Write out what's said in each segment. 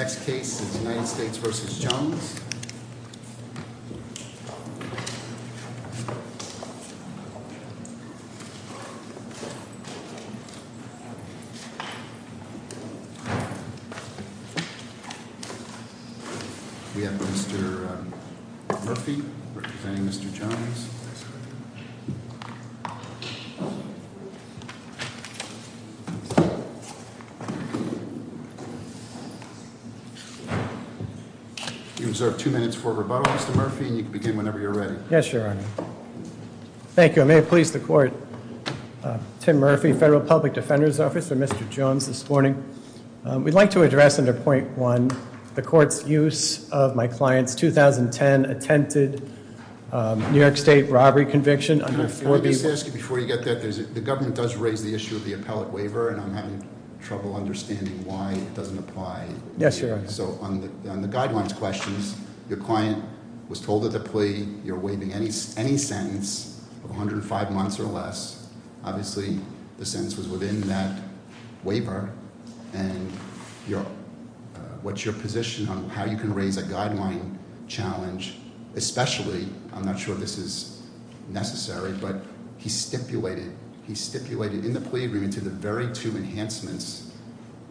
We have Mr. Murphy, representing Mr. Jones. Mr. Murphy, you can begin whenever you're ready. Yes, Your Honor. Thank you. I may please the court. Tim Murphy, Federal Public Defender's Office. I'm Mr. Jones this morning. We'd like to address under point one the court's use of my client's 2010 attempted New York State robbery conviction under four people- Let me just ask you before you get that. The government does raise the issue of the appellate waiver, and I'm having trouble understanding why it doesn't apply. Yes, Your Honor. So on the guidelines questions, your client was told at the plea you're waiving any sentence of 105 months or less. Obviously the sentence was within that waiver, and what's your position on how you can raise a guideline challenge? Especially, I'm not sure this is necessary, but he stipulated in the plea agreement to the very two enhancements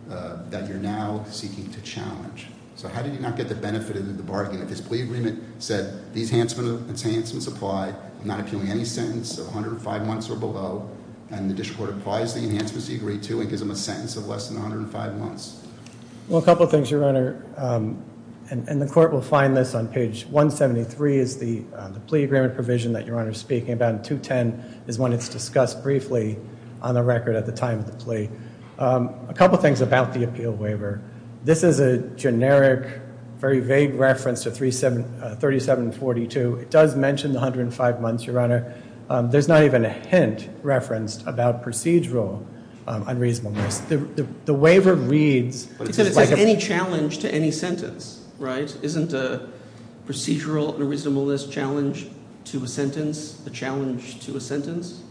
that you're now seeking to challenge. So how did you not get the benefit of the bargain? This plea agreement said these enhancements apply. I'm not appealing any sentence of 105 months or below, and the district court applies the enhancements he agreed to and gives him a sentence of less than 105 months. Well, a couple things, Your Honor, and the court will find this on page 173 is the plea agreement provision that Your Honor is speaking about, and 210 is one that's discussed briefly on the record at the time of the plea. A couple things about the appeal waiver. This is a generic, very vague reference to 3742. It does mention the 105 months, Your Honor. There's not even a hint referenced about procedural unreasonableness. The waiver reads like a- Except it says any challenge to any sentence, right? Isn't a procedural unreasonableness challenge to a sentence a challenge to a sentence?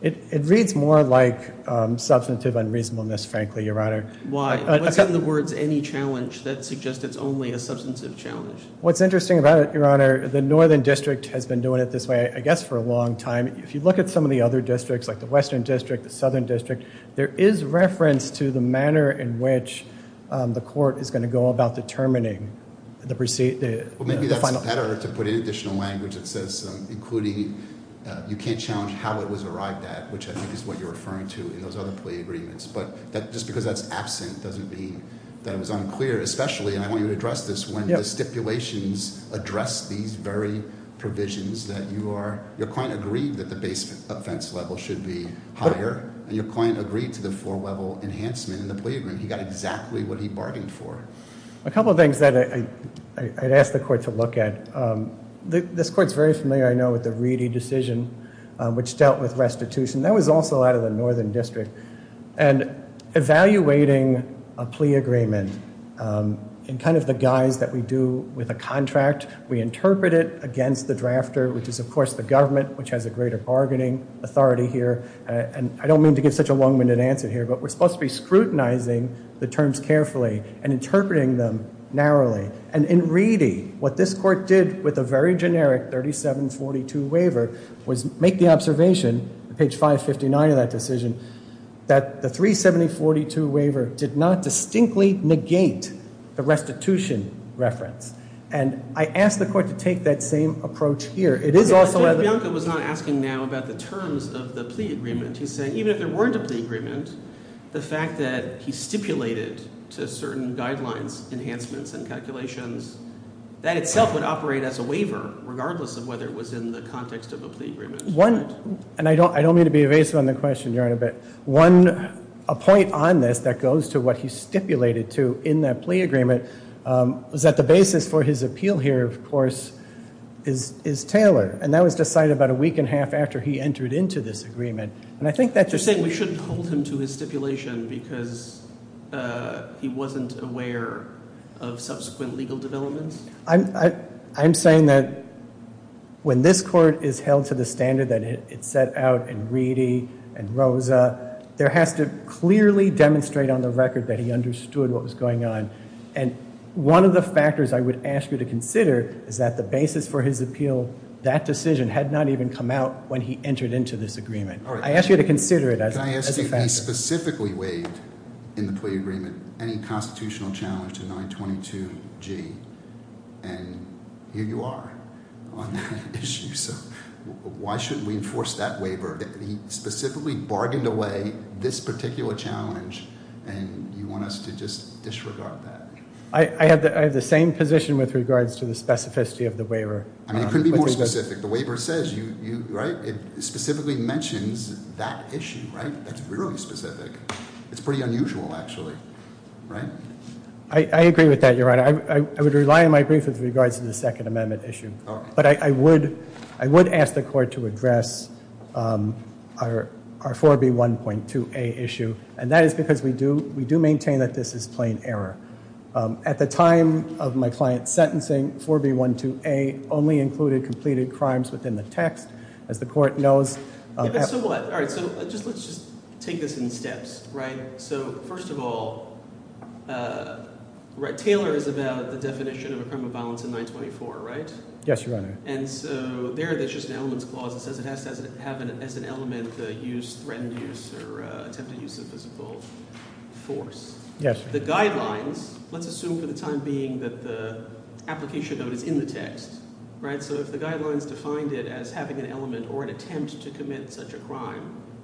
It reads more like substantive unreasonableness, frankly, Your Honor. Why? What's in the words any challenge that suggests it's only a substantive challenge? What's interesting about it, Your Honor, the northern district has been doing it this way, I guess, for a long time. If you look at some of the other districts, like the western district, the southern district, there is reference to the manner in which the court is going to go about determining the final- Well, maybe that's better to put in additional language that says including you can't challenge how it was arrived at, which I think is what you're referring to in those other plea agreements. But just because that's absent doesn't mean that it was unclear, especially, and I want you to address this, when the stipulations address these very provisions that you are- Your client agreed that the base offense level should be higher, and your client agreed to the four-level enhancement in the plea agreement. He got exactly what he bargained for. A couple of things that I'd ask the court to look at. This court's very familiar, I know, with the Reedy decision, which dealt with restitution. That was also out of the northern district. And evaluating a plea agreement in kind of the guise that we do with a contract, we interpret it against the drafter, which is, of course, the government, which has a greater bargaining authority here. And I don't mean to give such a long-winded answer here, but we're supposed to be scrutinizing the terms carefully and interpreting them narrowly. And in Reedy, what this court did with a very generic 3742 waiver was make the observation, page 559 of that decision, that the 3742 waiver did not distinctly negate the restitution reference. And I ask the court to take that same approach here. It is also- But Bianca was not asking now about the terms of the plea agreement. He's saying even if there weren't a plea agreement, the fact that he stipulated to certain guidelines, enhancements, and calculations, that itself would operate as a waiver, regardless of whether it was in the context of a plea agreement. And I don't mean to be evasive on the question, Your Honor, but one point on this that goes to what he stipulated to in that plea agreement was that the basis for his appeal here, of course, is Taylor. And that was decided about a week and a half after he entered into this agreement. And I think that- You're saying we shouldn't hold him to his stipulation because he wasn't aware of subsequent legal developments? I'm saying that when this court is held to the standard that it set out in Reedy and Rosa, there has to clearly demonstrate on the record that he understood what was going on. And one of the factors I would ask you to consider is that the basis for his appeal, that decision had not even come out when he entered into this agreement. I ask you to consider it as a factor. He specifically waived in the plea agreement any constitutional challenge to 922G, and here you are on that issue. So why shouldn't we enforce that waiver? He specifically bargained away this particular challenge, and you want us to just disregard that? I have the same position with regards to the specificity of the waiver. I mean, it couldn't be more specific. The waiver says, right? It specifically mentions that issue, right? It's really specific. It's pretty unusual, actually, right? I agree with that, Your Honor. I would rely on my brief with regards to the Second Amendment issue. But I would ask the court to address our 4B1.2a issue, and that is because we do maintain that this is plain error. At the time of my client's sentencing, 4B1.2a only included completed crimes within the text. As the court knows, So what? All right, so let's just take this in steps, right? So first of all, Taylor is about the definition of a crime of violence in 924, right? Yes, Your Honor. And so there there's just an elements clause that says it has to have as an element the use, threatened use, or attempted use of physical force. Yes. The guidelines, let's assume for the time being that the application note is in the text, right?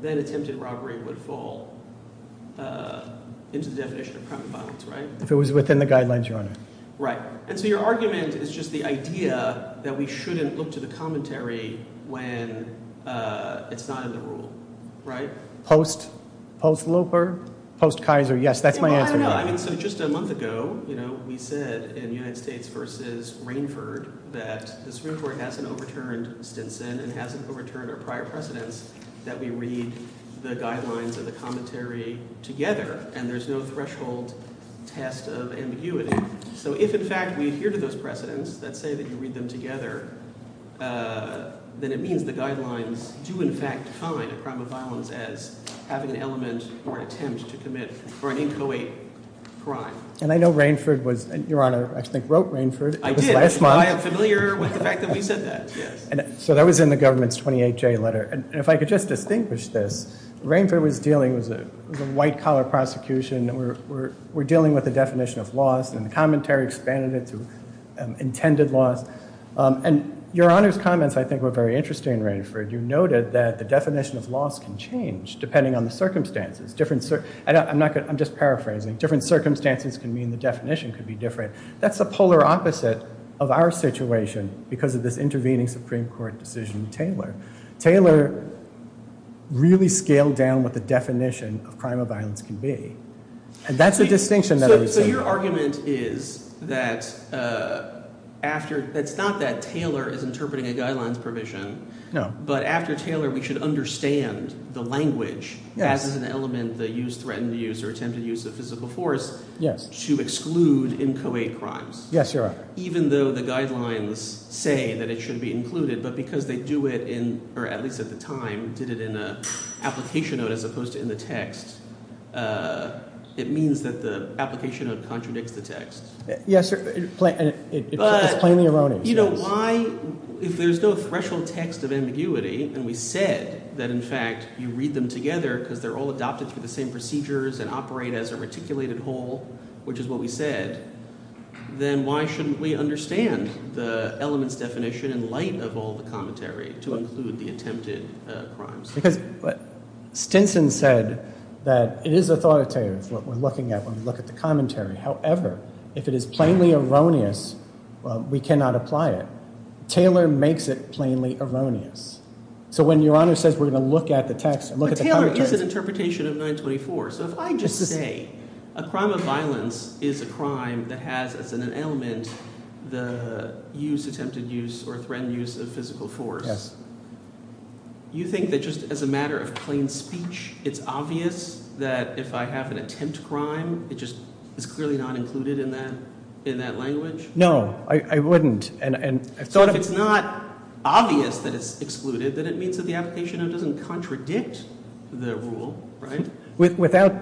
Then attempted robbery would fall into the definition of crime of violence, right? If it was within the guidelines, Your Honor. Right. And so your argument is just the idea that we shouldn't look to the commentary when it's not in the rule, right? Post-Loper, post-Kaiser, yes, that's my answer. I mean, so just a month ago, you know, we said in United States v. Rainford that the Supreme Court hasn't overturned Stinson and hasn't overturned our prior precedents that we read the guidelines and the commentary together, and there's no threshold test of ambiguity. So if, in fact, we adhere to those precedents that say that you read them together, then it means the guidelines do, in fact, define a crime of violence as having an element or an attempt to commit or an inchoate crime. And I know Rainford was, Your Honor, I think wrote Rainford. I did. It was last month. I am familiar with the fact that we said that, yes. So that was in the government's 28-J letter. And if I could just distinguish this, Rainford was dealing with a white-collar prosecution. We're dealing with the definition of loss, and the commentary expanded it to intended loss. And Your Honor's comments, I think, were very interesting, Rainford. You noted that the definition of loss can change depending on the circumstances. I'm just paraphrasing. Different circumstances can mean the definition could be different. That's the polar opposite of our situation because of this intervening Supreme Court decision in Taylor. Taylor really scaled down what the definition of crime of violence can be, and that's the distinction that I was saying. So your argument is that after – it's not that Taylor is interpreting a guidelines provision. No. But after Taylor, we should understand the language as an element that you threatened to use or attempted to use of physical force to exclude inchoate crimes. Yes, Your Honor. Even though the guidelines say that it should be included, but because they do it in – or at least at the time did it in an application note as opposed to in the text, it means that the application note contradicts the text. Yes, sir. It's plainly erroneous. Why – if there's no threshold text of ambiguity and we said that, in fact, you read them together because they're all adopted through the same procedures and operate as a reticulated whole, which is what we said, then why shouldn't we understand the elements definition in light of all the commentary to include the attempted crimes? Because Stinson said that it is authoritative what we're looking at when we look at the commentary. However, if it is plainly erroneous, we cannot apply it. Taylor makes it plainly erroneous. So when Your Honor says we're going to look at the text – But Taylor is an interpretation of 924. So if I just say a crime of violence is a crime that has as an element the use, attempted use, or threatened use of physical force. Yes. You think that just as a matter of plain speech, it's obvious that if I have an attempt crime, it just is clearly not included in that language? No, I wouldn't. So if it's not obvious that it's excluded, then it means that the application note doesn't contradict the rule, right? Without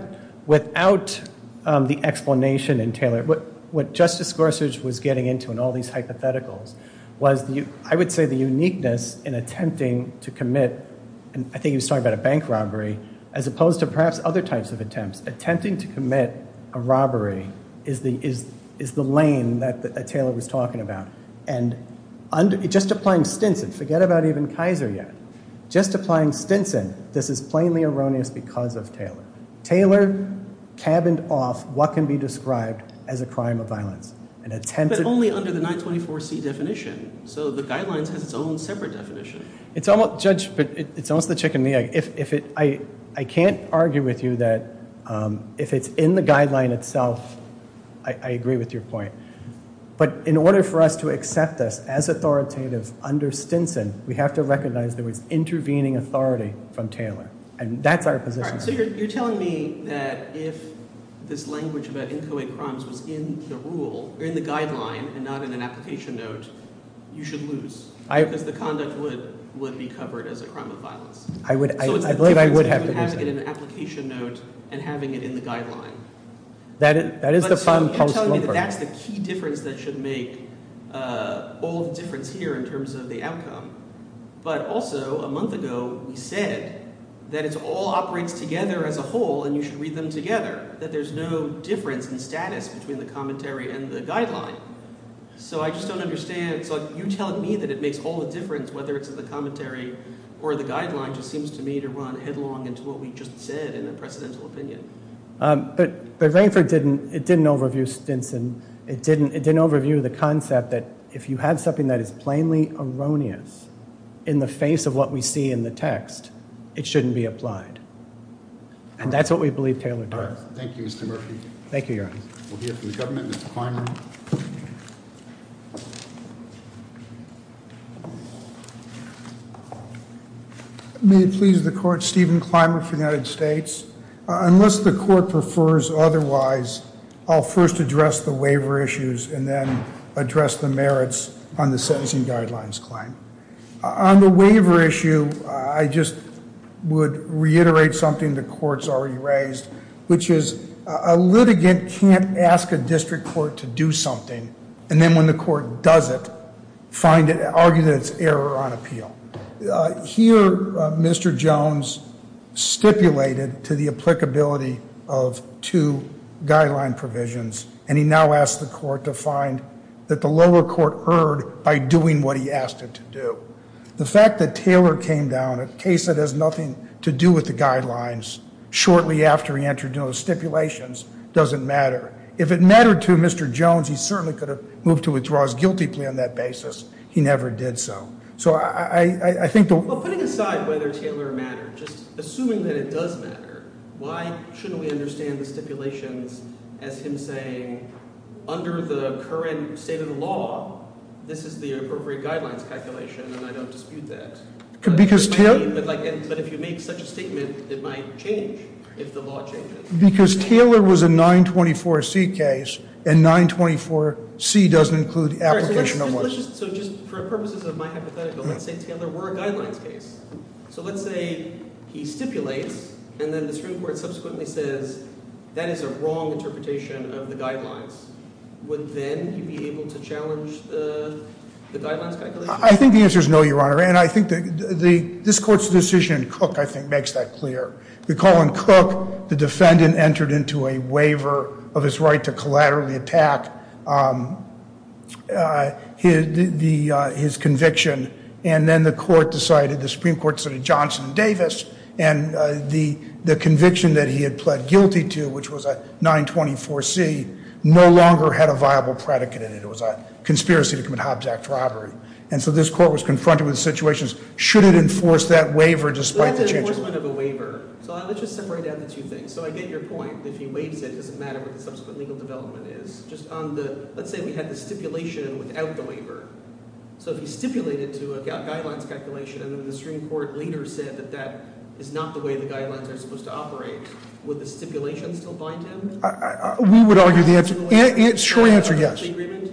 the explanation in Taylor, what Justice Gorsuch was getting into in all these hypotheticals was, I would say, the uniqueness in attempting to commit – I think he was talking about a bank robbery – as opposed to perhaps other types of attempts. Attempting to commit a robbery is the lane that Taylor was talking about. Just applying Stinson – forget about even Kaiser yet – just applying Stinson, this is plainly erroneous because of Taylor. Taylor cabined off what can be described as a crime of violence. But only under the 924C definition. So the Guidelines has its own separate definition. Judge, it's almost the chicken and the egg. I can't argue with you that if it's in the Guideline itself, I agree with your point. But in order for us to accept this as authoritative under Stinson, we have to recognize that it's intervening authority from Taylor. And that's our position. So you're telling me that if this language about inchoate crimes was in the rule – or in the Guideline and not in an application note, you should lose? Because the conduct would be covered as a crime of violence. I believe I would have to lose that. So it's the difference between having it in an application note and having it in the Guideline. But so you're telling me that that's the key difference that should make all the difference here in terms of the outcome. But also a month ago we said that it all operates together as a whole and you should read them together, that there's no difference in status between the commentary and the Guideline. So I just don't understand. So you're telling me that it makes all the difference whether it's in the commentary or the Guideline just seems to me to run headlong into what we just said in the precedential opinion. But Rainford didn't – it didn't overview Stinson. It didn't overview the concept that if you have something that is plainly erroneous in the face of what we see in the text, it shouldn't be applied. And that's what we believe Taylor does. Thank you, Mr. Murphy. Thank you, Your Honor. We'll hear from the government. Mr. Clymer. May it please the Court, Stephen Clymer for the United States. Unless the Court prefers otherwise, I'll first address the waiver issues and then address the merits on the Sentencing Guidelines claim. On the waiver issue, I just would reiterate something the Court's already raised, which is a litigant can't ask a district court to do something and then when the court does it, find it – argue that it's error on appeal. Here, Mr. Jones stipulated to the applicability of two Guideline provisions, and he now asked the Court to find that the lower court erred by doing what he asked it to do. The fact that Taylor came down, a case that has nothing to do with the Guidelines, shortly after he entered into those stipulations doesn't matter. If it mattered to Mr. Jones, he certainly could have moved to withdraw his guilty plea on that basis. He never did so. Well, putting aside whether Taylor mattered, just assuming that it does matter, why shouldn't we understand the stipulations as him saying, under the current state of the law, this is the appropriate Guidelines calculation and I don't dispute that? But if you make such a statement, it might change if the law changes. Because Taylor was a 924C case, and 924C doesn't include application of what? So let's just – so just for purposes of my hypothetical, let's say Taylor were a Guidelines case. So let's say he stipulates and then the Supreme Court subsequently says that is a wrong interpretation of the Guidelines. Would then he be able to challenge the Guidelines calculation? I think the answer is no, Your Honor, and I think the – this Court's decision in Cook, I think, makes that clear. Recall in Cook, the defendant entered into a waiver of his right to collaterally attack his conviction, and then the Court decided – the Supreme Court decided Johnson and Davis, and the conviction that he had pled guilty to, which was a 924C, no longer had a viable predicate in it. It was a conspiracy to commit Hobbs Act robbery. And so this Court was confronted with situations, should it enforce that waiver despite the change of – If it's an enforcement of a waiver – so let's just separate out the two things. So I get your point that if he waives it, it doesn't matter what the subsequent legal development is. Just on the – let's say we had the stipulation without the waiver. So if he stipulated to a Guidelines calculation and then the Supreme Court later said that that is not the way the Guidelines are supposed to operate, would the stipulation still bind him? We would argue the answer – short answer, yes. Agreement?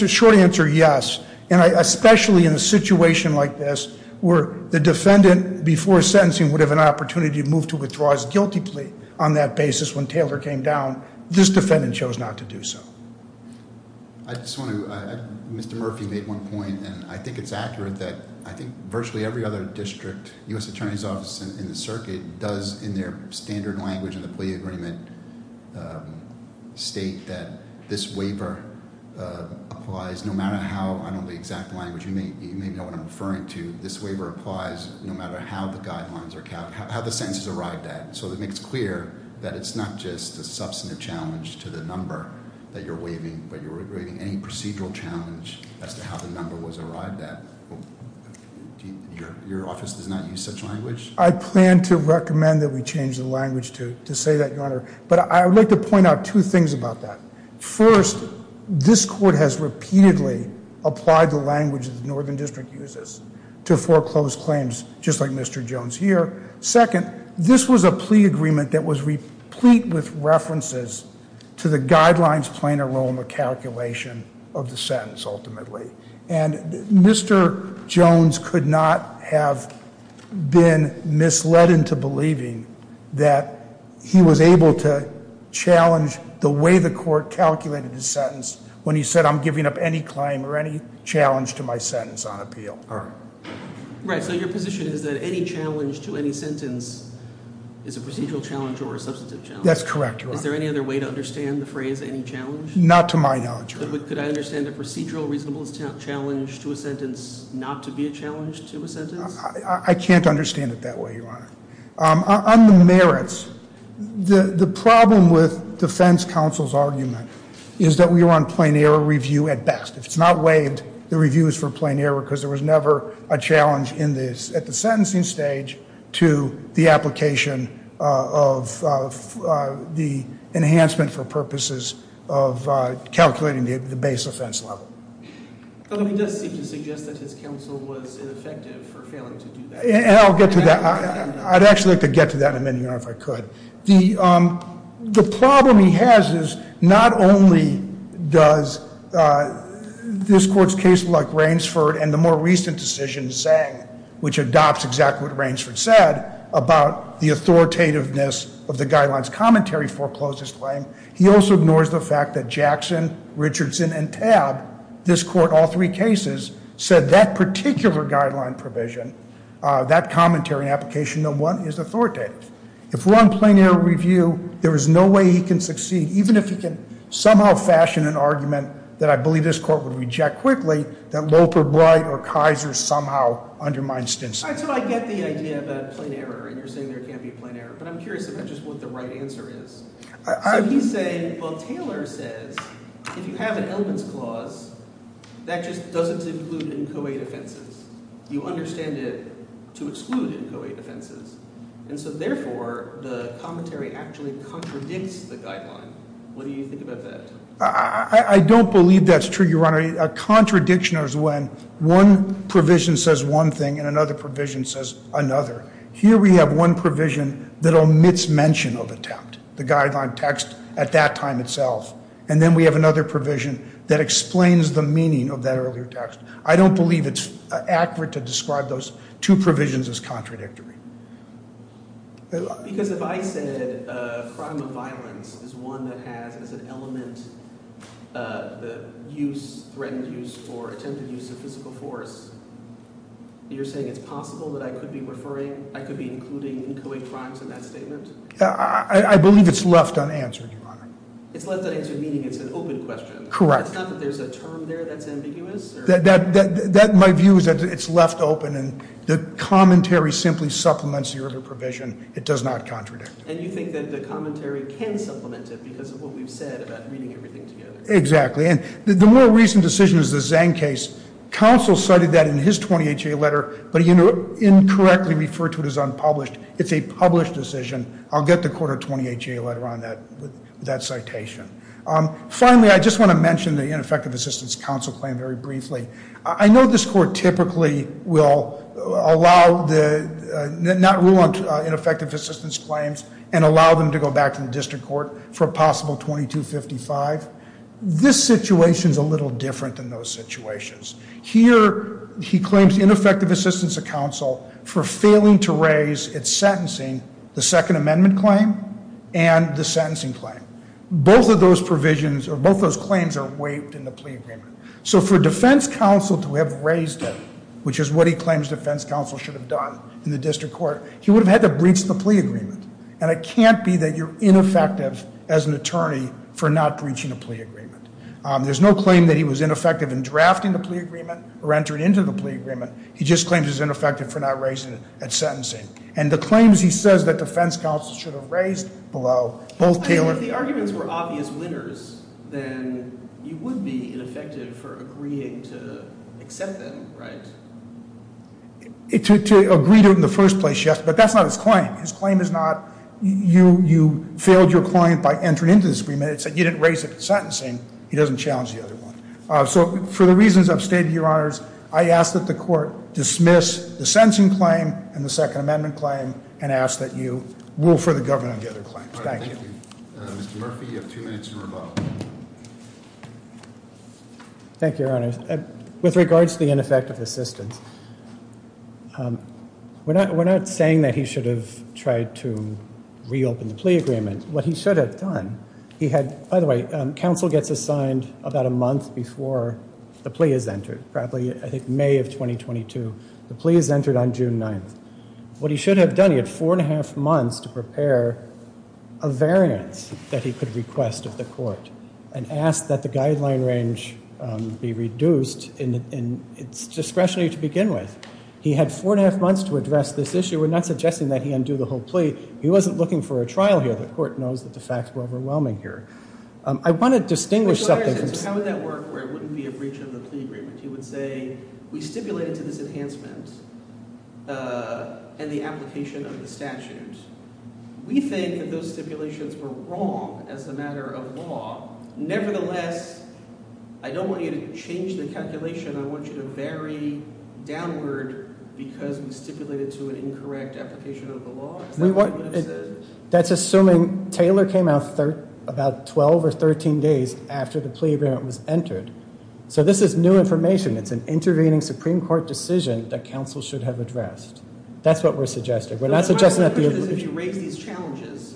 Short answer, yes. And especially in a situation like this where the defendant, before sentencing, would have an opportunity to move to withdraw his guilty plea on that basis when Taylor came down, this defendant chose not to do so. I just want to – Mr. Murphy made one point, and I think it's accurate that I think virtually every other district, U.S. Attorney's Office and the circuit does, in their standard language in the plea agreement, state that this waiver applies no matter how – I don't know the exact language. You may know what I'm referring to. This waiver applies no matter how the Guidelines are – how the sentence is arrived at. So it makes clear that it's not just a substantive challenge to the number that you're waiving, but you're waiving any procedural challenge as to how the number was arrived at. Your office does not use such language? I plan to recommend that we change the language to say that, Your Honor. But I would like to point out two things about that. First, this Court has repeatedly applied the language that the Northern District uses to foreclose claims just like Mr. Jones here. Second, this was a plea agreement that was replete with references to the Guidelines playing a role in the calculation of the sentence ultimately. And Mr. Jones could not have been misled into believing that he was able to challenge the way the Court calculated his sentence when he said, I'm giving up any claim or any challenge to my sentence on appeal. All right. Right. So your position is that any challenge to any sentence is a procedural challenge or a substantive challenge? That's correct, Your Honor. Is there any other way to understand the phrase any challenge? Not to my knowledge, Your Honor. But could I understand a procedural reasonable challenge to a sentence not to be a challenge to a sentence? I can't understand it that way, Your Honor. On the merits, the problem with defense counsel's argument is that we were on plain error review at best. If it's not waived, the review is for plain error because there was never a challenge at the sentencing stage to the application of the enhancement for purposes of calculating the base offense level. He does seem to suggest that his counsel was ineffective for failing to do that. And I'll get to that. I'd actually like to get to that in a minute, Your Honor, if I could. The problem he has is not only does this court's case like Rainsford and the more recent decision, Zang, which adopts exactly what Rainsford said about the authoritativeness of the guidelines commentary foreclosed his claim, he also ignores the fact that Jackson, Richardson, and Tabb, this court, all three cases, said that particular guideline provision, that commentary application, no one is authoritative. If we're on plain error review, there is no way he can succeed, even if he can somehow fashion an argument that I believe this court would reject quickly, that Loper, Bright, or Kaiser somehow undermine stints. So I get the idea about plain error, and you're saying there can't be a plain error, but I'm curious if that's just what the right answer is. So he's saying, well, Taylor says if you have an elements clause, that just doesn't include NCOA defenses. You understand it to exclude NCOA defenses. And so therefore, the commentary actually contradicts the guideline. What do you think about that? I don't believe that's true, Your Honor. A contradiction is when one provision says one thing and another provision says another. Here we have one provision that omits mention of attempt, the guideline text at that time itself, and then we have another provision that explains the meaning of that earlier text. I don't believe it's accurate to describe those two provisions as contradictory. Because if I said a crime of violence is one that has as an element the use, threatened use, or attempted use of physical force, you're saying it's possible that I could be referring, I could be including NCOA crimes in that statement? I believe it's left unanswered, Your Honor. It's left unanswered, meaning it's an open question. Correct. It's not that there's a term there that's ambiguous? My view is that it's left open and the commentary simply supplements the earlier provision. It does not contradict it. And you think that the commentary can supplement it because of what we've said about reading everything together? Exactly. And the more recent decision is the Zhang case. Counsel cited that in his 20HA letter, but he incorrectly referred to it as unpublished. It's a published decision. I'll get the court a 20HA letter on that citation. Finally, I just want to mention the ineffective assistance counsel claim very briefly. I know this court typically will not rule on ineffective assistance claims and allow them to go back to the district court for a possible 2255. This situation is a little different than those situations. Here he claims ineffective assistance of counsel for failing to raise at sentencing the Second Amendment claim and the sentencing claim. Both of those claims are waived in the plea agreement. So for defense counsel to have raised it, which is what he claims defense counsel should have done in the district court, he would have had to breach the plea agreement. And it can't be that you're ineffective as an attorney for not breaching a plea agreement. There's no claim that he was ineffective in drafting the plea agreement or entering into the plea agreement. He just claims he's ineffective for not raising it at sentencing. And the claims he says that defense counsel should have raised below both Taylor. If the arguments were obvious winners, then you would be ineffective for agreeing to accept them, right? To agree to it in the first place, yes. But that's not his claim. His claim is not you failed your client by entering into this agreement. It's that you didn't raise it at sentencing. He doesn't challenge the other one. So for the reasons I've stated, Your Honors, I ask that the court dismiss the sentencing claim and the Second Amendment claim and ask that you rule for the government on the other claims. Thank you. Mr. Murphy, you have two minutes to rebuttal. Thank you, Your Honors. With regards to the ineffective assistance, we're not saying that he should have tried to reopen the plea agreement. What he should have done, he had, by the way, counsel gets assigned about a month before the plea is entered, probably I think May of 2022. The plea is entered on June 9th. What he should have done, he had four and a half months to prepare a variance that he could request of the court and ask that the guideline range be reduced in its discretionary to begin with. He had four and a half months to address this issue. We're not suggesting that he undo the whole plea. He wasn't looking for a trial here. The court knows that the facts were overwhelming here. I want to distinguish something. How would that work where it wouldn't be a breach of the plea agreement? You would say we stipulated to this enhancement and the application of the statute. We think that those stipulations were wrong as a matter of law. Nevertheless, I don't want you to change the calculation. I want you to vary downward because we stipulated to an incorrect application of the law. That's assuming Taylor came out about 12 or 13 days after the plea agreement was entered. So this is new information. It's an intervening Supreme Court decision that counsel should have addressed. That's what we're suggesting. We're not suggesting that the application. If you raise these challenges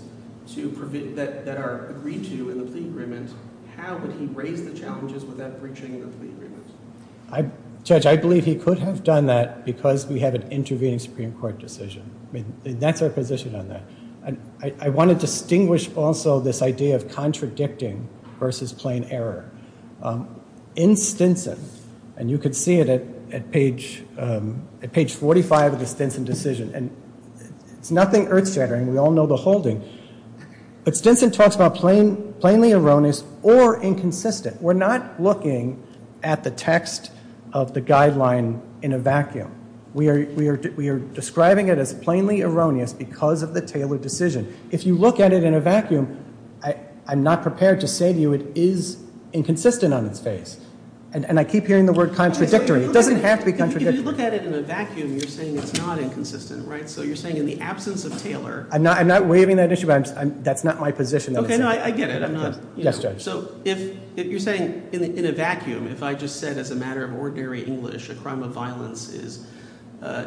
that are agreed to in the plea agreement, how would he raise the challenges without breaching the plea agreement? Judge, I believe he could have done that because we have an intervening Supreme Court decision. That's our position on that. I want to distinguish also this idea of contradicting versus plain error. In Stinson, and you could see it at page 45 of the Stinson decision, and it's nothing earth shattering. We all know the holding. But Stinson talks about plainly erroneous or inconsistent. We're not looking at the text of the guideline in a vacuum. We are describing it as plainly erroneous because of the Taylor decision. If you look at it in a vacuum, I'm not prepared to say to you it is inconsistent on its face. And I keep hearing the word contradictory. It doesn't have to be contradictory. If you look at it in a vacuum, you're saying it's not inconsistent, right? So you're saying in the absence of Taylor. I'm not waiving that issue, but that's not my position. Okay, no, I get it. Yes, Judge. So if you're saying in a vacuum, if I just said as a matter of ordinary English, a crime of violence is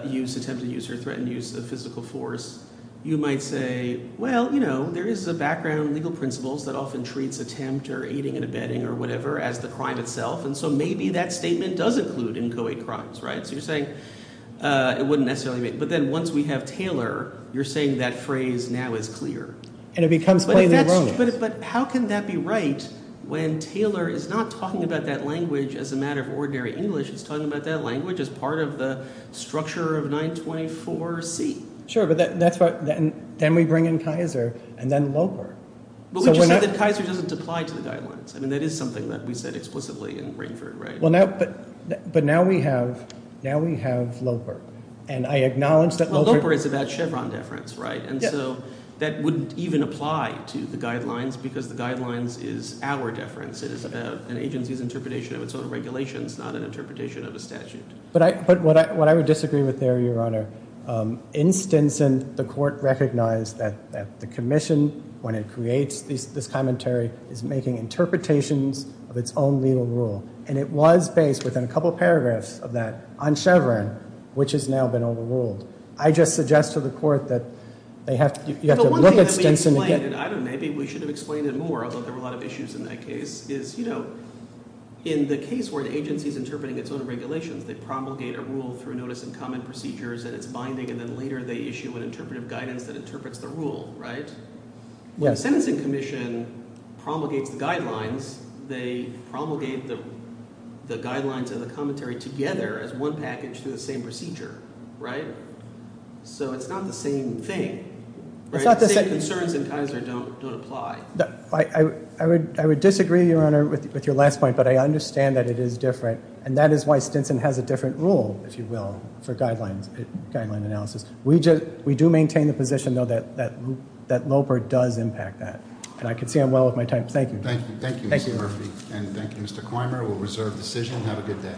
used, attempted use, or threatened use of physical force, you might say, well, you know, there is a background legal principles that often treats attempt or aiding and abetting or whatever as the crime itself, and so maybe that statement does include inchoate crimes, right? So you're saying it wouldn't necessarily be. But then once we have Taylor, you're saying that phrase now is clear. And it becomes plainly wrong. But how can that be right when Taylor is not talking about that language as a matter of ordinary English. It's talking about that language as part of the structure of 924C. Sure, but then we bring in Kaiser and then Loper. But we just said that Kaiser doesn't apply to the guidelines. I mean that is something that we said explicitly in Ringford, right? But now we have Loper, and I acknowledge that Loper. Well, Loper is about Chevron deference, right? And so that wouldn't even apply to the guidelines because the guidelines is our deference. It is about an agency's interpretation of its own regulations, not an interpretation of a statute. But what I would disagree with there, Your Honor, in Stinson the court recognized that the commission, when it creates this commentary, is making interpretations of its own legal rule. And it was based within a couple paragraphs of that on Chevron, which has now been overruled. I just suggest to the court that they have to look at Stinson again. The one thing that we explained, and I don't know, maybe we should have explained it more, although there were a lot of issues in that case, is, you know, in the case where the agency is interpreting its own regulations, they promulgate a rule through notice and comment procedures, and it's binding, and then later they issue an interpretive guidance that interprets the rule, right? Yes. The Sentencing Commission promulgates the guidelines. They promulgate the guidelines and the commentary together as one package through the same procedure, right? So it's not the same thing, right? It's not the same. The same concerns in Kaiser don't apply. I would disagree, Your Honor, with your last point, but I understand that it is different, and that is why Stinson has a different rule, if you will, for guideline analysis. We do maintain the position, though, that Loper does impact that. And I can see I'm well with my time. Thank you. Thank you, Mr. Murphy, and thank you, Mr. Quymer. We'll reserve the decision. Have a good day.